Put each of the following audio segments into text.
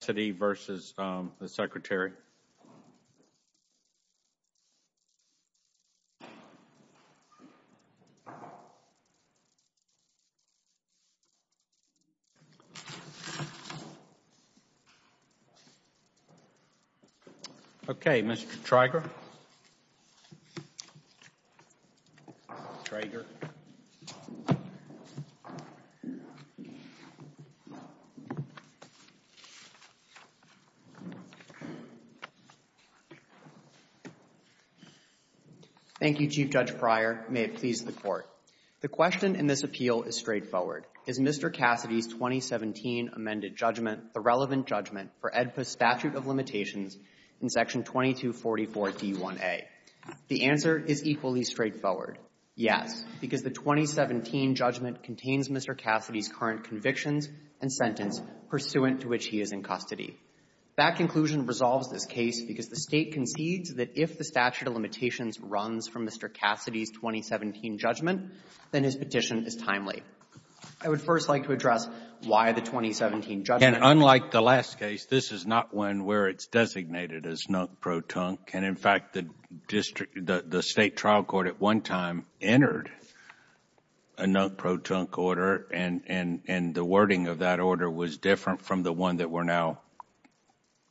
Cassidy v. Secretary, Florida Department of Corrections, Okay, Mr. Traeger. Thank you, Chief Judge Breyer. May it please the Court. The question in this appeal is straightforward. Is Mr. Cassidy's 2017 amended judgment the relevant judgment for AEDPA's statute of limitations in Section 2244d1a? The answer is equally straightforward, yes, because the 2017 judgment contains Mr. Cassidy's current convictions and sentence pursuant to which he is in custody. That conclusion resolves this case because the State concedes that if the statute of limitations runs from Mr. Cassidy's 2017 judgment, then his petition is timely. I would first like to address why the 2017 judgment. And unlike the last case, this is not one where it's designated as non-protunk. And in fact, the district the State trial court at one time entered a non-protunk order, and the wording of that order was different from the one that we're now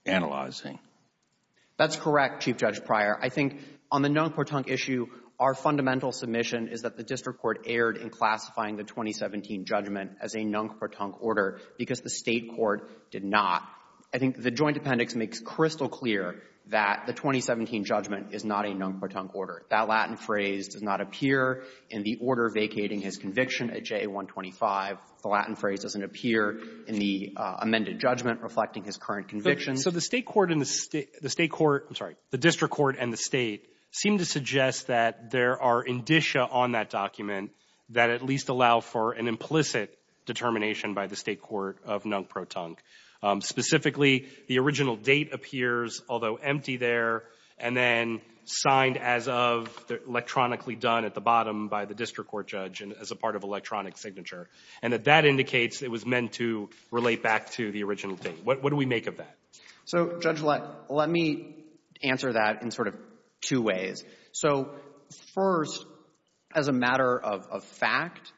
analyzing. That's correct, Chief Judge Breyer. I think on the non-protunk issue, our fundamental submission is that the district court erred in classifying the 2017 judgment as a non-protunk order because the State court did not. I think the joint appendix makes crystal clear that the 2017 judgment is not a non-protunk order. That Latin phrase does not appear in the order vacating his conviction at J125. The Latin phrase doesn't appear in the amended judgment reflecting his current conviction. So the State court and the State court — I'm sorry, the district court and the State seem to suggest that there are indicia on that document that at least allow for an implicit determination by the State court of non-protunk. Specifically, the original date appears, although empty there, and then signed as of, electronically done at the bottom by the district court judge as a part of electronic signature. And that that indicates it was meant to relate back to the original date. What do we make of that? So, Judge Leck, let me answer that in sort of two ways. So, first, as a matter of fact,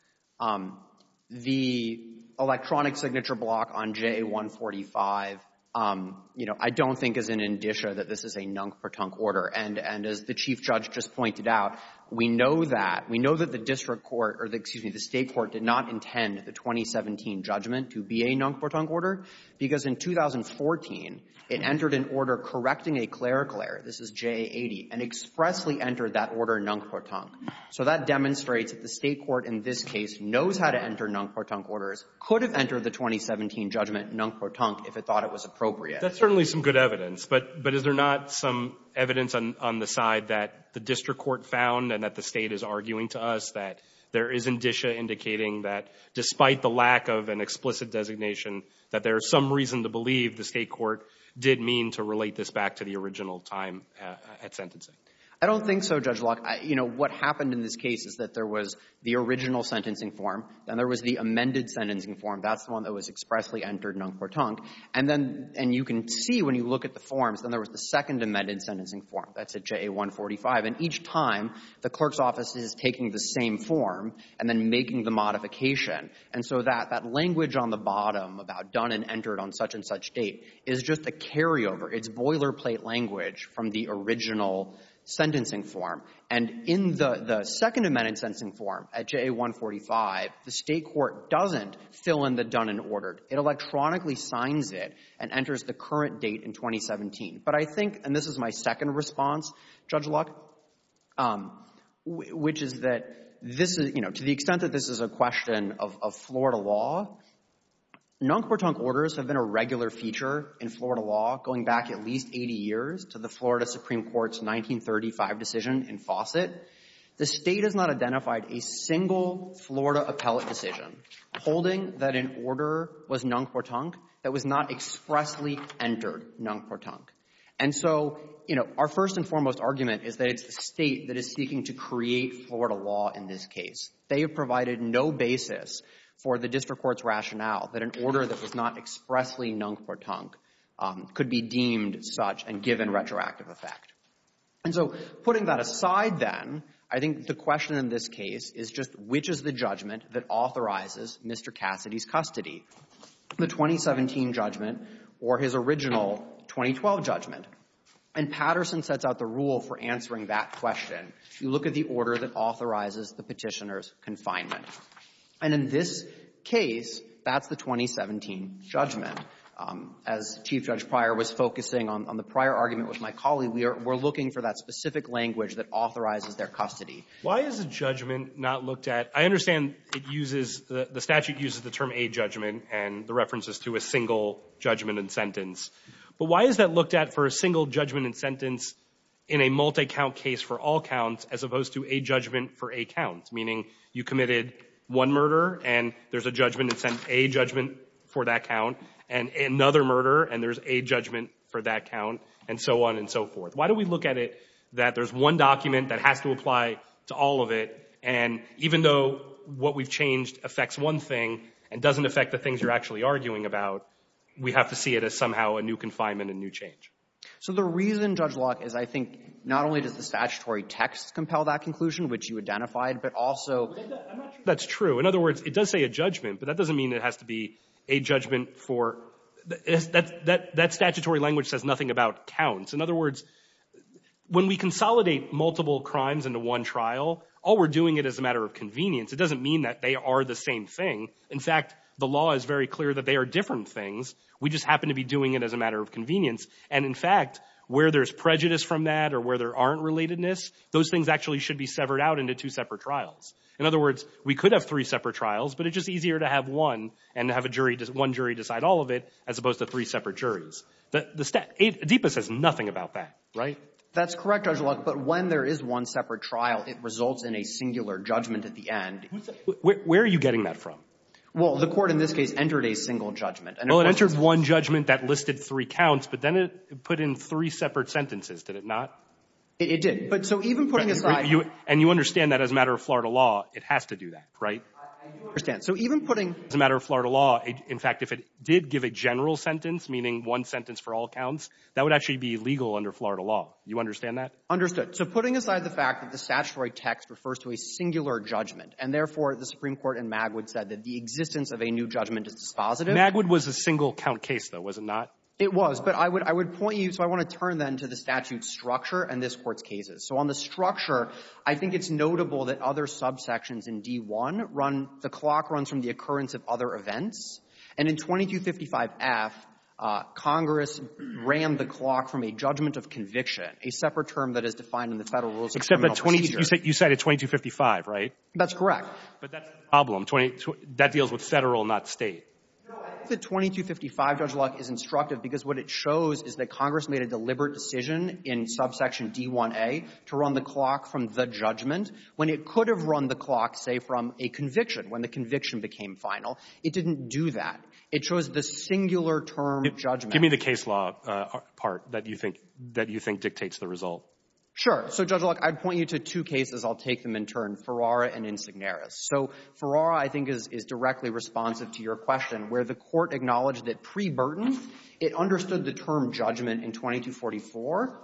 the electronic signature block on J145, you know, I don't think is an indicia that this is a non-protunk order. And as the Chief Judge just pointed out, we know that. We know that the district court or, excuse me, the State court did not intend the 2017 judgment to be a non-protunk order, because in 2014, it entered an order correcting a clerical error, this is J80, and expressly entered that order non-protunk. So that demonstrates that the State court in this case knows how to enter non-protunk orders, could have entered the 2017 judgment non-protunk if it thought it was appropriate. That's certainly some good evidence. But is there not some evidence on the side that the district court found and that the State is arguing to us that there is indicia indicating that despite the lack of an explicit designation, that there is some reason to believe the State court did mean to relate this back to the original time at sentencing? I don't think so, Judge Leck. You know, what happened in this case is that there was the original sentencing form, then there was the amended sentencing form. That's the one that was expressly entered non-protunk. And then you can see when you look at the forms, then there was the second amended sentencing form. That's at JA145. And each time, the clerk's office is taking the same form and then making the modification. And so that language on the bottom about done and entered on such and such date is just a carryover. It's boilerplate language from the original sentencing form. And in the second amended sentencing form at JA145, the State electronically signs it and enters the current date in 2017. But I think, and this is my second response, Judge Leck, which is that this is, you know, to the extent that this is a question of Florida law, non-protunk orders have been a regular feature in Florida law going back at least 80 years to the Florida Supreme Court's 1935 decision in Fawcett. The State has not identified a single Florida appellate decision holding that an order was non-protunk that was not expressly entered non-protunk. And so, you know, our first and foremost argument is that it's the State that is seeking to create Florida law in this case. They have provided no basis for the district court's rationale that an order that was not expressly non-protunk could be deemed such and given retroactive effect. And so putting that aside, then, I think the question in this case is just which is the judgment that authorizes Mr. Cassidy's custody, the 2017 judgment or his original 2012 judgment. And Patterson sets out the rule for answering that question. You look at the order that authorizes the Petitioner's confinement. And in this case, that's the 2017 judgment. As Chief Judge Pryor was focusing on the prior argument with my colleague, we're looking for that specific language that authorizes their custody. Why is a judgment not looked at? I understand it uses, the statute uses the term a judgment and the references to a single judgment and sentence. But why is that looked at for a single judgment and sentence in a multi-count case for all counts as opposed to a judgment for a count, meaning you committed one murder and there's a judgment and sentence, a judgment for that count, and another murder and there's a judgment for that count, and so on and so forth. Why do we look at it that there's one document that has to apply to all of it, and even though what we've changed affects one thing and doesn't affect the things you're actually arguing about, we have to see it as somehow a new confinement and new change. So the reason, Judge Locke, is I think not only does the statutory text compel that conclusion, which you identified, but also – I'm not sure that's true. In other words, it does say a judgment, but that doesn't mean it has to be a judgment for – that statutory language says nothing about counts. In other words, when we consolidate multiple crimes into one trial, all we're doing it as a matter of convenience. It doesn't mean that they are the same thing. In fact, the law is very clear that they are different things. We just happen to be doing it as a matter of convenience. And in fact, where there's prejudice from that or where there aren't relatedness, those things actually should be severed out into two separate trials. In other words, we could have three separate trials, but it's just easier to have one and have a jury – one jury decide all of it as opposed to three separate juries. The – ADEPA says nothing about that, right? That's correct, Judge Locke, but when there is one separate trial, it results in a singular judgment at the end. Where are you getting that from? Well, the Court in this case entered a single judgment. Well, it entered one judgment that listed three counts, but then it put in three separate sentences, did it not? It did. But so even putting aside – And you understand that as a matter of Florida law, it has to do that, right? I do understand. So even putting – As a matter of Florida law, in fact, if it did give a general sentence, meaning one sentence for all counts, that would actually be legal under Florida law. You understand that? Understood. So putting aside the fact that the statutory text refers to a singular judgment, and therefore the Supreme Court in Magwood said that the existence of a new judgment is dispositive – Magwood was a single-count case, though, was it not? It was. But I would point you – so I want to turn, then, to the statute's So on the structure, I think it's notable that other subsections in D-1 run – the clock runs from the occurrence of other events. And in 2255-F, Congress ran the clock from a judgment of conviction, a separate term that is defined in the Federal Rules of Criminal Procedure. Except that 20 – you cited 2255, right? That's correct. But that's the problem. That deals with Federal, not State. No, I think the 2255 judge lock is instructive because what it shows is that Congress made a deliberate decision in subsection D-1a to run the clock from the judgment when it could have run the clock, say, from a conviction, when the conviction became final. It didn't do that. It chose the singular-term judgment. Give me the case law part that you think – that you think dictates the result. Sure. So, Judge Locke, I'd point you to two cases. I'll take them in turn, Ferrara and Insignaris. So Ferrara, I think, is directly responsive to your question, where the Court acknowledged that pre-Burton, it understood the term judgment in 2244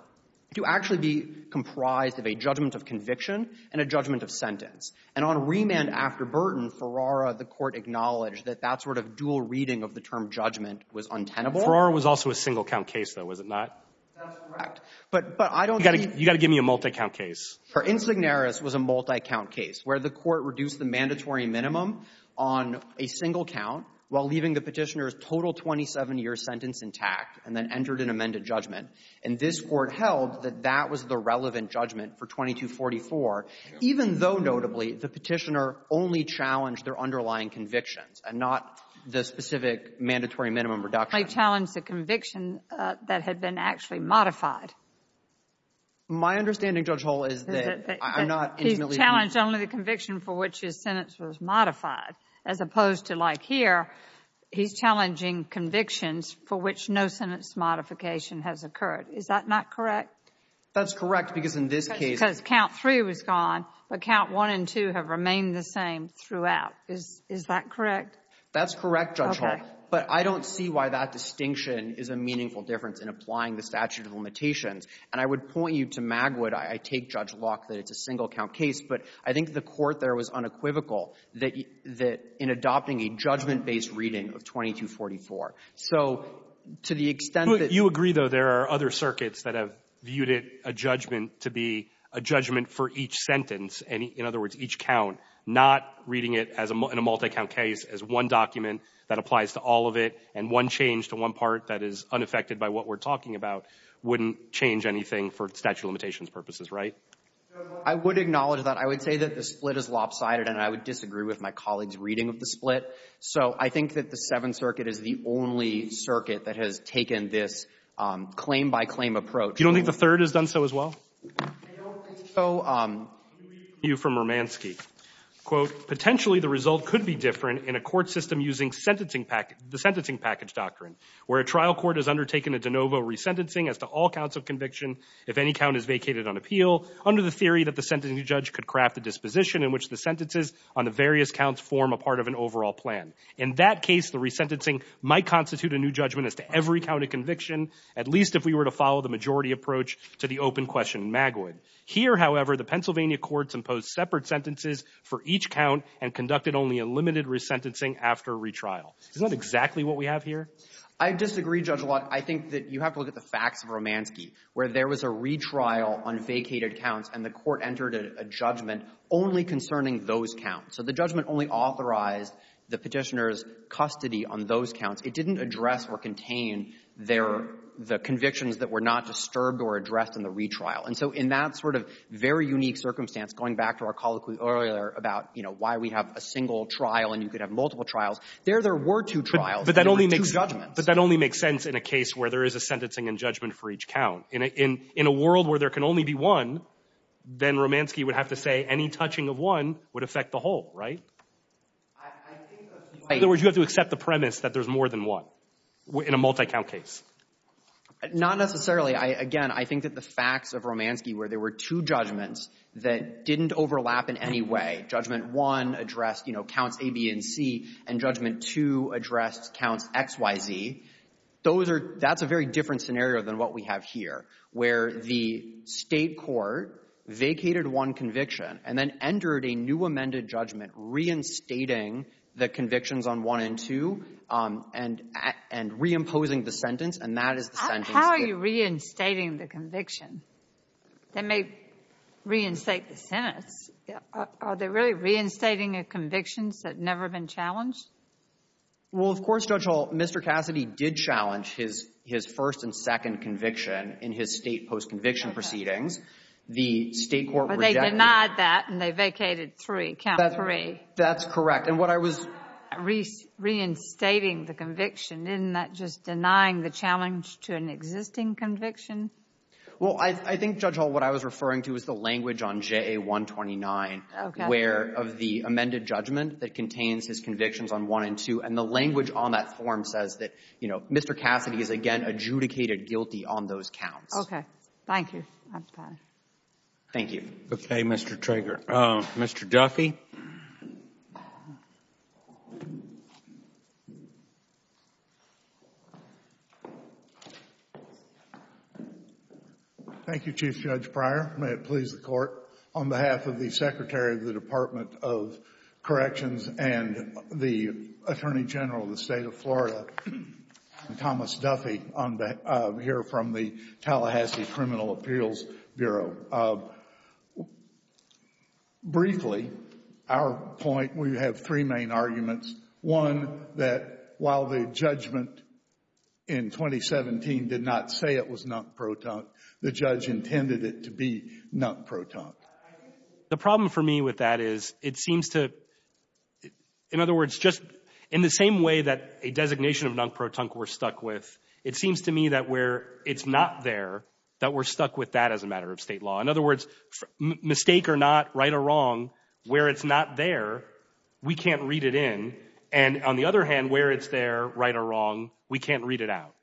to actually be comprised of a judgment of conviction and a judgment of sentence. And on remand after Burton, Ferrara, the Court acknowledged that that sort of dual reading of the term judgment was untenable. Ferrara was also a single-count case, though, was it not? That's correct. But I don't think – You've got to give me a multi-count case. Insignaris was a multi-count case where the Court reduced the mandatory minimum on a single count while leaving the Petitioner's total 27-year sentence intact and then entered an amended judgment. And this Court held that that was the relevant judgment for 2244, even though, notably, the Petitioner only challenged their underlying convictions and not the specific mandatory minimum reduction. He challenged the conviction that had been actually modified. My understanding, Judge Hull, is that I'm not – He challenged only the conviction for which his sentence was modified, as opposed to, like here, he's challenging convictions for which no sentence modification has occurred. Is that not correct? That's correct, because in this case – Because count three was gone, but count one and two have remained the same throughout. Is that correct? That's correct, Judge Hull. Okay. But I don't see why that distinction is a meaningful difference in applying the statute of limitations. And I would point you to Magwood. I take Judge Locke that it's a single-count case, but I think the Court there was unequivocal that in adopting a judgment-based reading of 2244. So to the extent that – You agree, though, there are other circuits that have viewed it, a judgment to be a judgment for each sentence. In other words, each count, not reading it in a multi-count case as one document that applies to all of it, and one change to one part that is unaffected by what we're talking about wouldn't change anything for statute of limitations purposes, right? I would acknowledge that. I would say that the split is lopsided, and I would disagree with my colleague's reading of the split. So I think that the Seventh Circuit is the only circuit that has taken this claim-by-claim approach. You don't think the third has done so as well? I don't think so. Let me read from Romanski. Quote, potentially the result could be different in a court system using sentencing package doctrine where a trial court has undertaken a de novo resentencing as to all counts of conviction if any count is vacated on appeal under the theory that the sentencing judge could craft a disposition in which the sentences on the various counts form a part of an overall plan. In that case, the resentencing might constitute a new judgment as to every count of conviction, at least if we were to follow the majority approach to the open question in Magwood. Here, however, the Pennsylvania courts imposed separate sentences for each count and conducted only a limited resentencing after retrial. Isn't that exactly what we have here? I disagree, Judge Law. I think that you have to look at the facts of Romanski, where there was a retrial on vacated counts, and the court entered a judgment only concerning those counts. So the judgment only authorized the Petitioner's custody on those counts. It didn't address or contain their — the convictions that were not disturbed or addressed in the retrial. And so in that sort of very unique circumstance, going back to our colloquy earlier about, you know, why we have a single trial and you could have multiple trials, there there were two trials. There were two judgments. But that only makes sense in a case where there is a sentencing and judgment for each count. In a world where there can only be one, then Romanski would have to say any touching of one would affect the whole, right? I think — In other words, you have to accept the premise that there's more than one in a multi-count case. Not necessarily. Again, I think that the facts of Romanski, where there were two judgments that didn't overlap in any way, judgment one addressed, you know, counts A, B, and C, and judgment two addressed counts X, Y, Z, those are — that's a very different scenario than what we have here, where the State court vacated one conviction and then entered a new amended judgment reinstating the convictions on one and two and reimposing the sentence, and that is the sentence that — How are you reinstating the conviction? They may reinstate the sentence. Are they really reinstating a conviction that's never been challenged? Well, of course, Judge Hall, Mr. Cassidy did challenge his first and second conviction in his State post-conviction proceedings. The State court — But they denied that and they vacated three, count three. That's correct. And what I was — Reinstating the conviction, isn't that just denying the challenge to an existing conviction? Well, I think, Judge Hall, what I was referring to is the language on JA-129 — Okay. — where — of the amended judgment that contains his convictions on one and two, and the language on that form says that, you know, Mr. Cassidy is, again, adjudicated guilty on those counts. Okay. Thank you. I'm fine. Thank you. Okay, Mr. Trager. Mr. Duffy. Thank you, Chief Judge Pryor. May it please the Court, on behalf of the Secretary of the Department of Corrections and the Attorney General of the State of Florida, Thomas Duffy, on behalf — here from the Tallahassee Criminal Appeals Bureau. Briefly, our point — we have three main arguments. One, that while the judgment in 2017 did not say it was non-proton, the judge intended it to be non-proton. The problem for me with that is, it seems to — in other words, just in the same way that a designation of non-proton we're stuck with, it seems to me that where it's not there, that we're stuck with that as a matter of State law. In other words, mistake or not, right or wrong, where it's not there, we can't read it in. And on the other hand, where it's there, right or wrong, we can't read it out.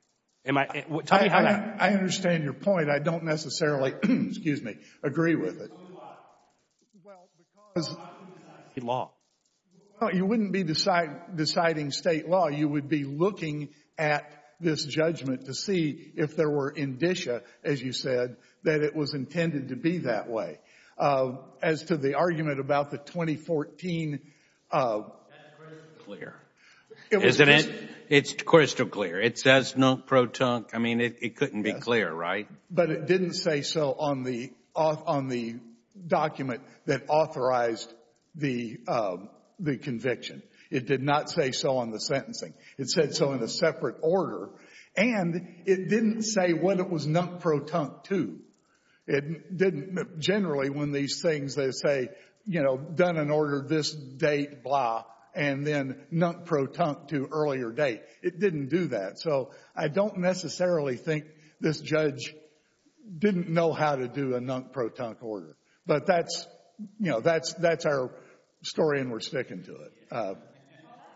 Am I — tell me how that — I understand your point. I don't necessarily — excuse me — agree with it. Well, because — State law. Well, you wouldn't be deciding State law. You would be looking at this judgment to see if there were indicia, as you said, that it was intended to be that way. As to the argument about the 2014 — That's crystal clear. Isn't it? It's crystal clear. It says non-proton. I mean, it couldn't be clear, right? But it didn't say so on the document that authorized the conviction. It did not say so on the sentencing. It said so in a separate order. And it didn't say what it was non-proton to. It didn't — generally, when these things, they say, you know, done and ordered this date, blah, and then non-proton to earlier date. It didn't do that. So I don't necessarily think this judge didn't know how to do a non-proton order. But that's — you know, that's our story, and we're sticking to it.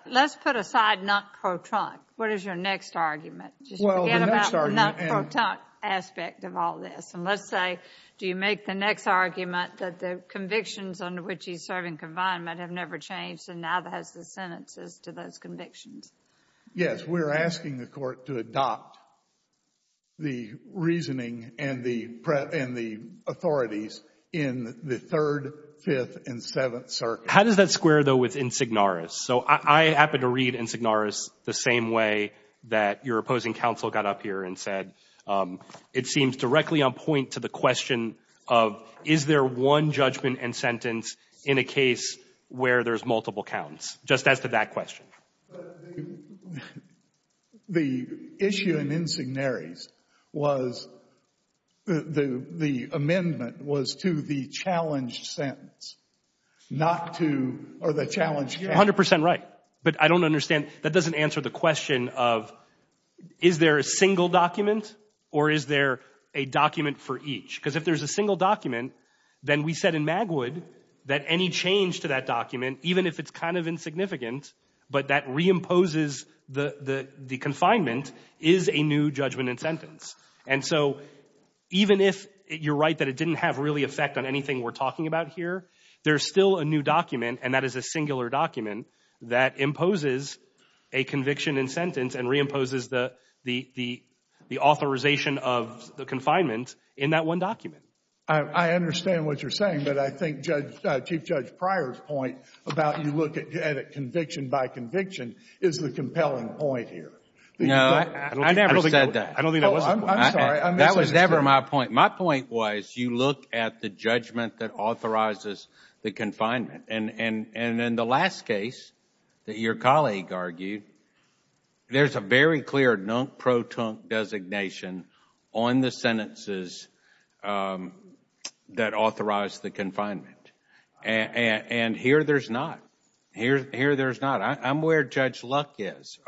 Let's put aside non-proton. What is your next argument? Well, the next argument — Just forget about the non-proton aspect of all this. And let's say, do you make the next argument that the convictions under which he's serving confinement have never changed, and neither has the sentences to those convictions? Yes. We're asking the Court to adopt the reasoning and the authorities in the Third, Fifth, and Seventh Circuits. How does that square, though, with Insignaris? So I happen to read Insignaris the same way that your opposing counsel got up here and said. It seems directly on point to the question of, is there one judgment and sentence in a case where there's multiple counts, just as to that question. The issue in Insignaris was — the amendment was to the challenged sentence, not to — or the challenged sentence. You're 100 percent right. But I don't understand. That doesn't answer the question of, is there a single document, or is there a document for each? Because if there's a single document, then we said in Magwood that any change to that document, even if it's kind of insignificant, but that reimposes the confinement, is a new judgment and sentence. And so even if you're right that it didn't have really effect on anything we're talking about here, there's still a new document, and that is a singular document, that imposes a conviction and sentence and reimposes the authorization of the confinement in that one document. I understand what you're saying. But I think Chief Judge Pryor's point about you look at it conviction by conviction is the compelling point here. No, I never said that. I don't think that was a point. I'm sorry. That was never my point. My point was you look at the judgment that authorizes the confinement. And in the last case that your colleague argued, there's a very clear non-proton designation on the sentences that authorize the confinement. And here there's not. Here there's not. I'm where Judge Luck is.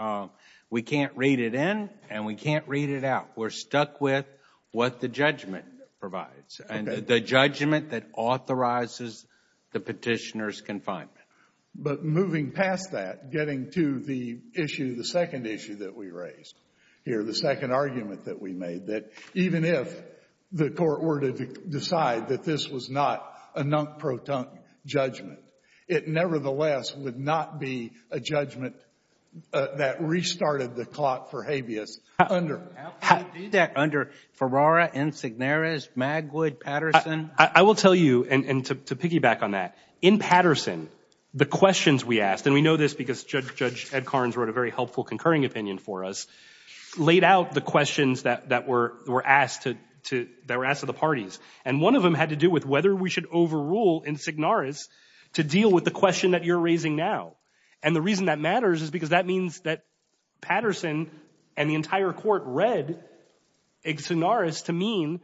We can't read it in, and we can't read it out. We're stuck with what the judgment provides and the judgment that authorizes the petitioner's confinement. But moving past that, getting to the issue, the second issue that we raised here, the second argument that we made that even if the court were to decide that this was not a non-proton judgment, it nevertheless would not be a judgment that restarted the clock for habeas under. How can you do that under Ferrara, Insignaris, Magwood, Patterson? I will tell you, and to piggyback on that, in Patterson the questions we asked, and we know this because Judge Ed Carnes wrote a very helpful concurring opinion for us, laid out the questions that were asked to the parties. And one of them had to do with whether we should overrule Insignaris to deal with the question that you're raising now. And the reason that matters is because that means that Patterson and the entire court read Insignaris to mean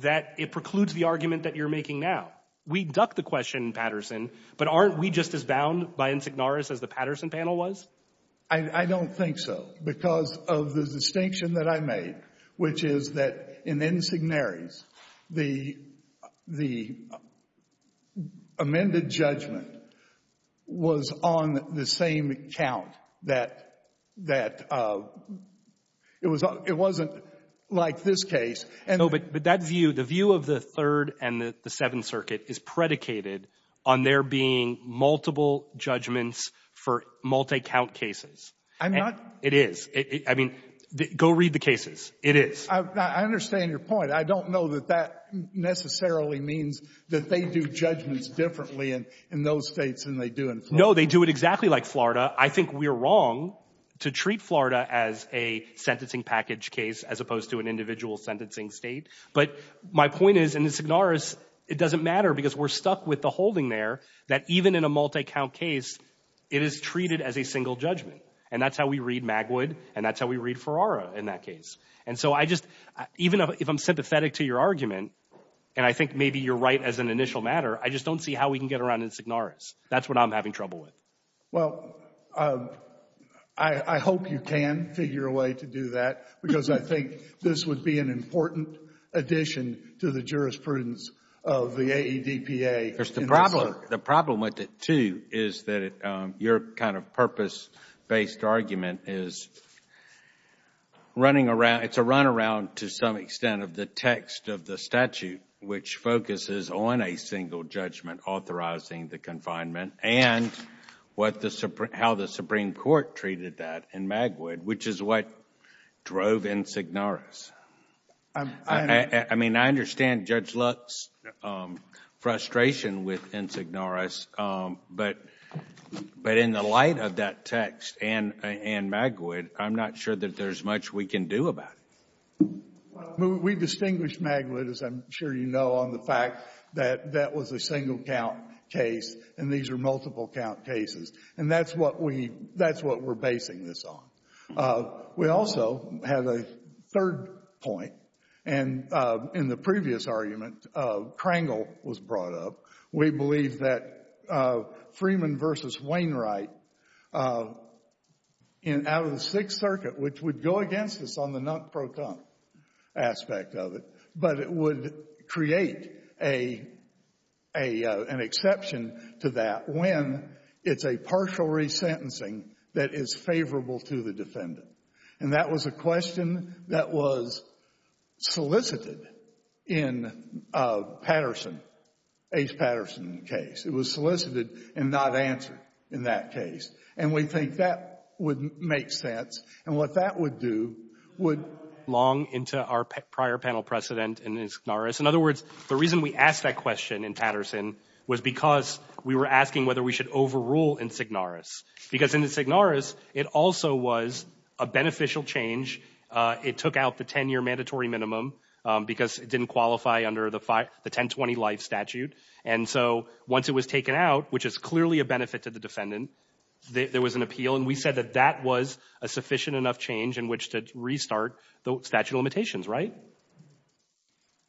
that it precludes the argument that you're making now. We ducked the question in Patterson, but aren't we just as bound by Insignaris as the Patterson panel was? I don't think so, because of the distinction that I made, which is that in Insignaris, the amended judgment was on the same count that it wasn't like this case. No, but that view, the view of the Third and the Seventh Circuit is predicated on there being multiple judgments for multi-count cases. And it is. I mean, go read the cases. It is. I understand your point. I don't know that that necessarily means that they do judgments differently in those States than they do in Florida. No, they do it exactly like Florida. I think we're wrong to treat Florida as a sentencing package case as opposed to an individual sentencing State. But my point is, in Insignaris, it doesn't matter, because we're stuck with the holding there that even in a multi-count case, it is treated as a single judgment. And that's how we read Magwood, and that's how we read Ferrara in that case. And so I just, even if I'm sympathetic to your argument, and I think maybe you're right as an initial matter, I just don't see how we can get around Insignaris. That's what I'm having trouble with. Well, I hope you can figure a way to do that, because I think this would be an important addition to the jurisprudence of the AEDPA. The problem with it, too, is that your kind of purpose-based argument is running around. It's a runaround to some extent of the text of the statute, which focuses on a single judgment authorizing the confinement and how the Supreme Court treated that in Magwood, which is what drove Insignaris. I mean, I understand Judge Luck's frustration with Insignaris, but in the light of that text and Magwood, I'm not sure that there's much we can do about it. We distinguished Magwood, as I'm sure you know, on the fact that that was a single-count case, and these are multiple-count cases, and that's what we're basing this on. We also have a third point, and in the previous argument, Krangel was brought up. We believe that Freeman v. Wainwright out of the Sixth Circuit, which would go against us on the non-proton aspect of it, but it would create an exception to that when it's a partial resentencing that is favorable to the defendant. And that was a question that was solicited in Patterson, Ace Patterson's case. It was solicited and not answered in that case. And we think that would make sense. And what that would do would long into our prior panel precedent in Insignaris. In other words, the reason we asked that question in Patterson was because we were asking whether we should overrule Insignaris. Because in Insignaris, it also was a beneficial change. It took out the 10-year mandatory minimum because it didn't qualify under the 1020-life statute. And so once it was taken out, which is clearly a benefit to the defendant, there was an appeal. And we said that that was a sufficient enough change in which to restart the statute of limitations, right?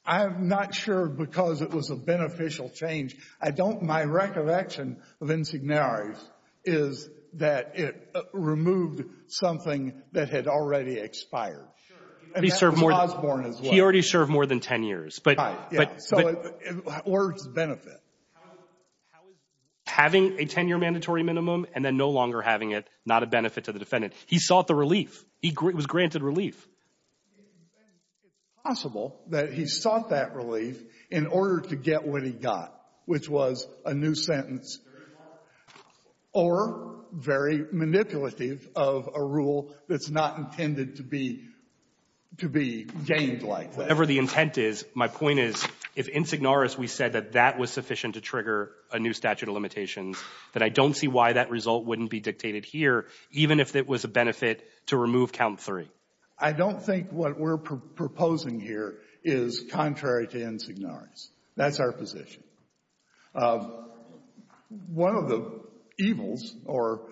I'm not sure because it was a beneficial change. I don't my recollection of Insignaris is that it removed something that had already expired. Sure. And that was Osborne as well. He already served more than 10 years. Right, yeah. Or its benefit. How is having a 10-year mandatory minimum and then no longer having it not a benefit to the defendant? He sought the relief. It was granted relief. It's possible that he sought that relief in order to get what he got, which was a new sentence or very manipulative of a rule that's not intended to be gained like that. Whatever the intent is, my point is, if Insignaris we said that that was sufficient to trigger a new statute of limitations, that I don't see why that result wouldn't be dictated here, even if it was a benefit to remove count three. I don't think what we're proposing here is contrary to Insignaris. That's our position. One of the evils or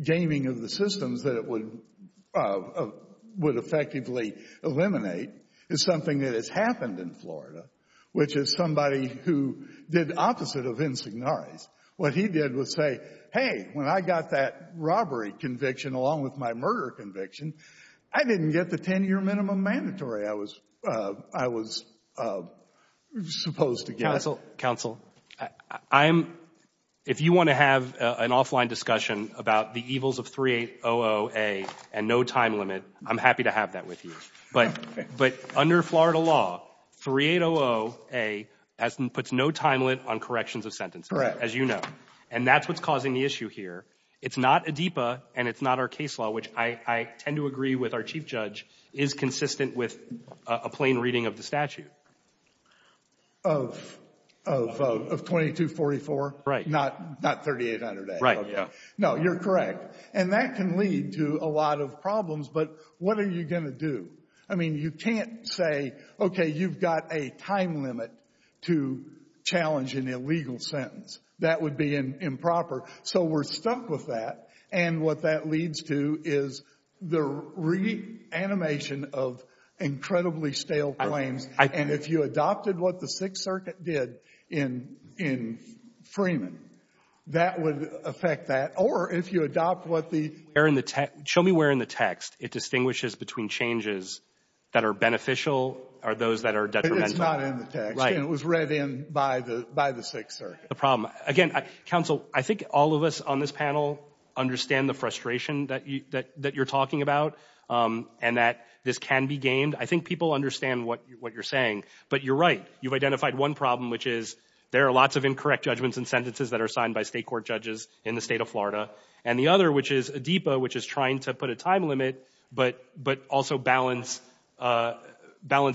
gaming of the systems that it would effectively eliminate is something that has happened in Florida, which is somebody who did opposite of Insignaris. What he did was say, hey, when I got that robbery conviction along with my murder conviction, I didn't get the 10-year minimum mandatory I was supposed to get. Counsel, counsel, I'm — if you want to have an offline discussion about the evils of 3800A and no time limit, I'm happy to have that with you. But under Florida law, 3800A puts no time limit on corrections of sentences. As you know. And that's what's causing the issue here. It's not ADEPA, and it's not our case law, which I tend to agree with our Chief Judge, is consistent with a plain reading of the statute. Of 2244? Right. Not 3800A? Right. Okay. No, you're correct. And that can lead to a lot of problems. But what are you going to do? I mean, you can't say, okay, you've got a time limit to challenge an illegal sentence. That would be improper. So we're stuck with that. And what that leads to is the reanimation of incredibly stale claims. And if you adopted what the Sixth Circuit did in Freeman, that would affect that. Show me where in the text it distinguishes between changes that are beneficial or those that are detrimental. It's not in the text. Right. And it was read in by the Sixth Circuit. The problem. Again, counsel, I think all of us on this panel understand the frustration that you're talking about and that this can be gained. I think people understand what you're saying. But you're right. You've identified one problem, which is there are lots of incorrect judgments and sentences that are signed by state court judges in the state of Florida. And the other, which is ADEPA, which is trying to put a time limit, but also balance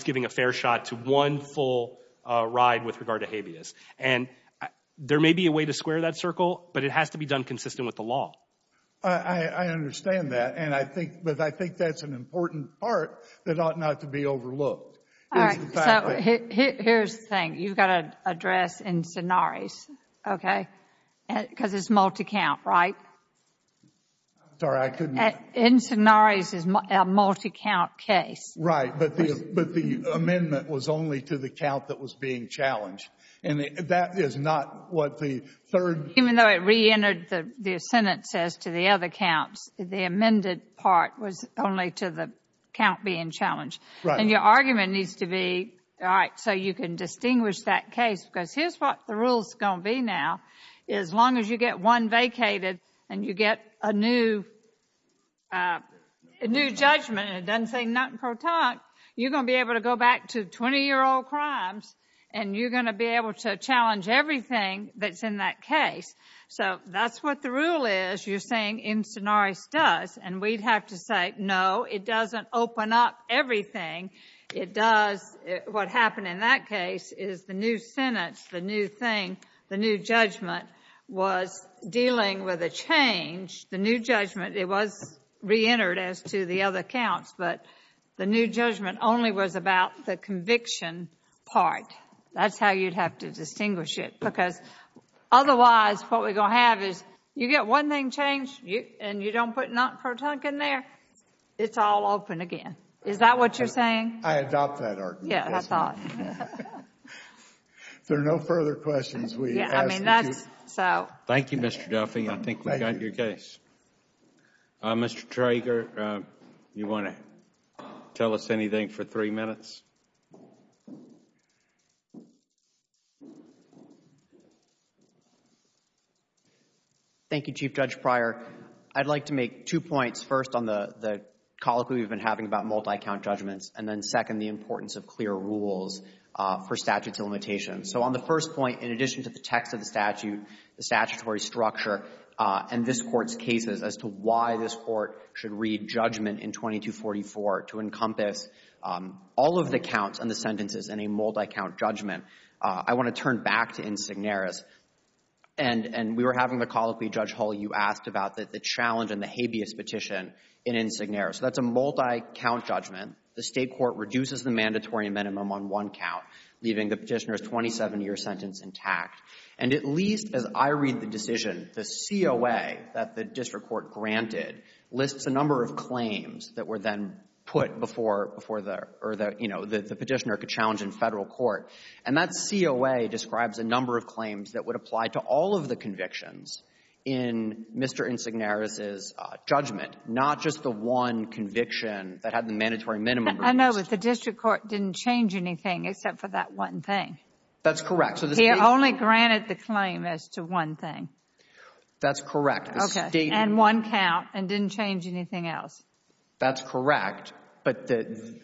giving a fair shot to one full ride with regard to habeas. And there may be a way to square that circle, but it has to be done consistent with the law. I understand that. But I think that's an important part that ought not to be overlooked. All right. So here's the thing. You've got to address Incinnares, okay? Because it's multi-count, right? I'm sorry. I couldn't. Incinnares is a multi-count case. Right. But the amendment was only to the count that was being challenged. And that is not what the third ---- Even though it reentered the sentence as to the other counts, the amended part was only to the count being challenged. Right. And your argument needs to be, all right, so you can distinguish that case. Because here's what the rule is going to be now. As long as you get one vacated and you get a new judgment and it doesn't say nothing pro tonque, you're going to be able to go back to 20-year-old crimes and you're going to be able to challenge everything that's in that case. So that's what the rule is. You're saying Incinnares does. And we'd have to say, no, it doesn't open up everything. It does what happened in that case is the new sentence, the new thing, the new judgment was dealing with a change. The new judgment, it was reentered as to the other counts, but the new judgment only was about the conviction part. That's how you'd have to distinguish it. Because otherwise what we're going to have is you get one thing changed and you don't put nothing pro tonque in there, it's all open again. Is that what you're saying? I adopt that argument. Yeah, I thought. If there are no further questions, we ask that you. Thank you, Mr. Duffy. I think we've got your case. Mr. Trager, do you want to tell us anything for three minutes? Thank you, Chief Judge Pryor. I'd like to make two points. First, on the colloquy we've been having about multi-count judgments. And then second, the importance of clear rules for statutes of limitations. So on the first point, in addition to the text of the statute, the statutory structure, and this Court's cases as to why this Court should read judgment in 2244 to encompass all of these things, in a multi-count judgment, I want to turn back to Insignaris. And we were having the colloquy, Judge Hull, you asked about the challenge and the habeas petition in Insignaris. That's a multi-count judgment. The state court reduces the mandatory minimum on one count, leaving the petitioner's 27-year sentence intact. And at least as I read the decision, the COA that the district court granted lists a number of claims that were then put before the petitioner could challenge in federal court. And that COA describes a number of claims that would apply to all of the convictions in Mr. Insignaris' judgment, not just the one conviction that had the mandatory minimum reduced. I know, but the district court didn't change anything except for that one thing. That's correct. He only granted the claim as to one thing. That's correct. And one count and didn't change anything else. That's correct. But the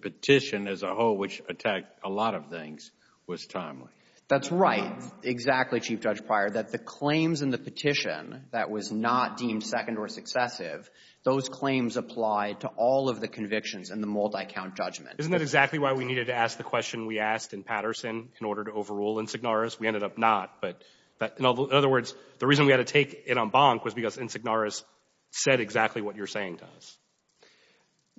petition as a whole, which attacked a lot of things, was timely. That's right, exactly, Chief Judge Pryor, that the claims in the petition that was not deemed second or successive, those claims apply to all of the convictions in the multi-count judgment. Isn't that exactly why we needed to ask the question we asked in Patterson in order to overrule Insignaris? We ended up not. In other words, the reason we had to take it en banc was because Insignaris said exactly what you're saying to us.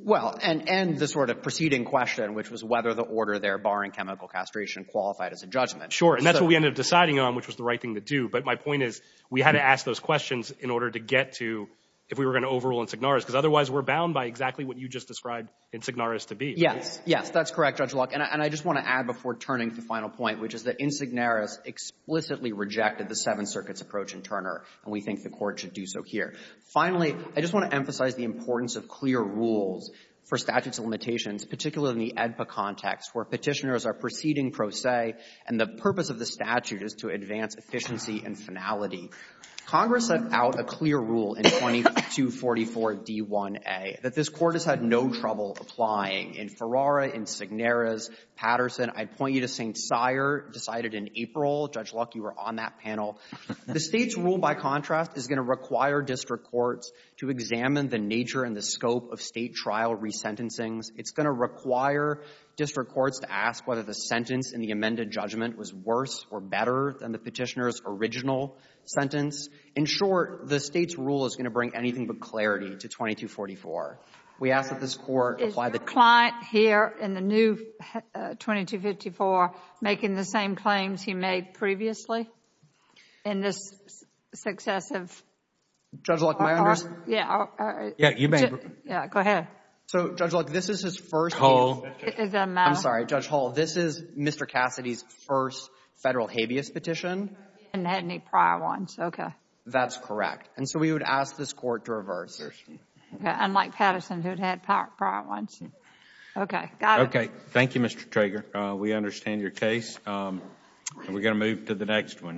Well, and the sort of preceding question, which was whether the order there barring chemical castration qualified as a judgment. Sure, and that's what we ended up deciding on, which was the right thing to do. But my point is we had to ask those questions in order to get to if we were going to overrule Insignaris, because otherwise we're bound by exactly what you just described Insignaris to be. Yes, yes, that's correct, Judge Locke. And I just want to add before turning to the final point, which is that Insignaris explicitly rejected the Seventh Circuit's approach in Turner, and we think the Court should do so here. Finally, I just want to emphasize the importance of clear rules for statutes of limitations, particularly in the AEDPA context, where Petitioners are proceeding pro se, and the purpose of the statute is to advance efficiency and finality. Congress set out a clear rule in 2244d1a that this Court has had no trouble applying in Ferrara, Insignaris, Patterson. I'd point you to St. Cyr decided in April. Judge Locke, you were on that panel. The State's rule, by contrast, is going to require district courts to examine the nature and the scope of State trial resentencings. It's going to require district courts to ask whether the sentence in the amended judgment was worse or better than the Petitioner's original sentence. In short, the State's rule is going to bring anything but clarity to 2244. We ask that this Court apply the Is your client here in the new 2254 making the same claims he made previously in this successive Judge Locke, am I under? Yeah. Yeah, you may. Yeah, go ahead. So, Judge Locke, this is his first Hull. I'm sorry, Judge Hull. This is Mr. Cassidy's first Federal habeas petition. He hadn't had any prior ones. Okay. That's correct. And so we would ask this Court to reverse. Unlike Patterson who had had prior ones. Okay. Got it. Thank you, Mr. Trager. We understand your case. We're going to move to the next one.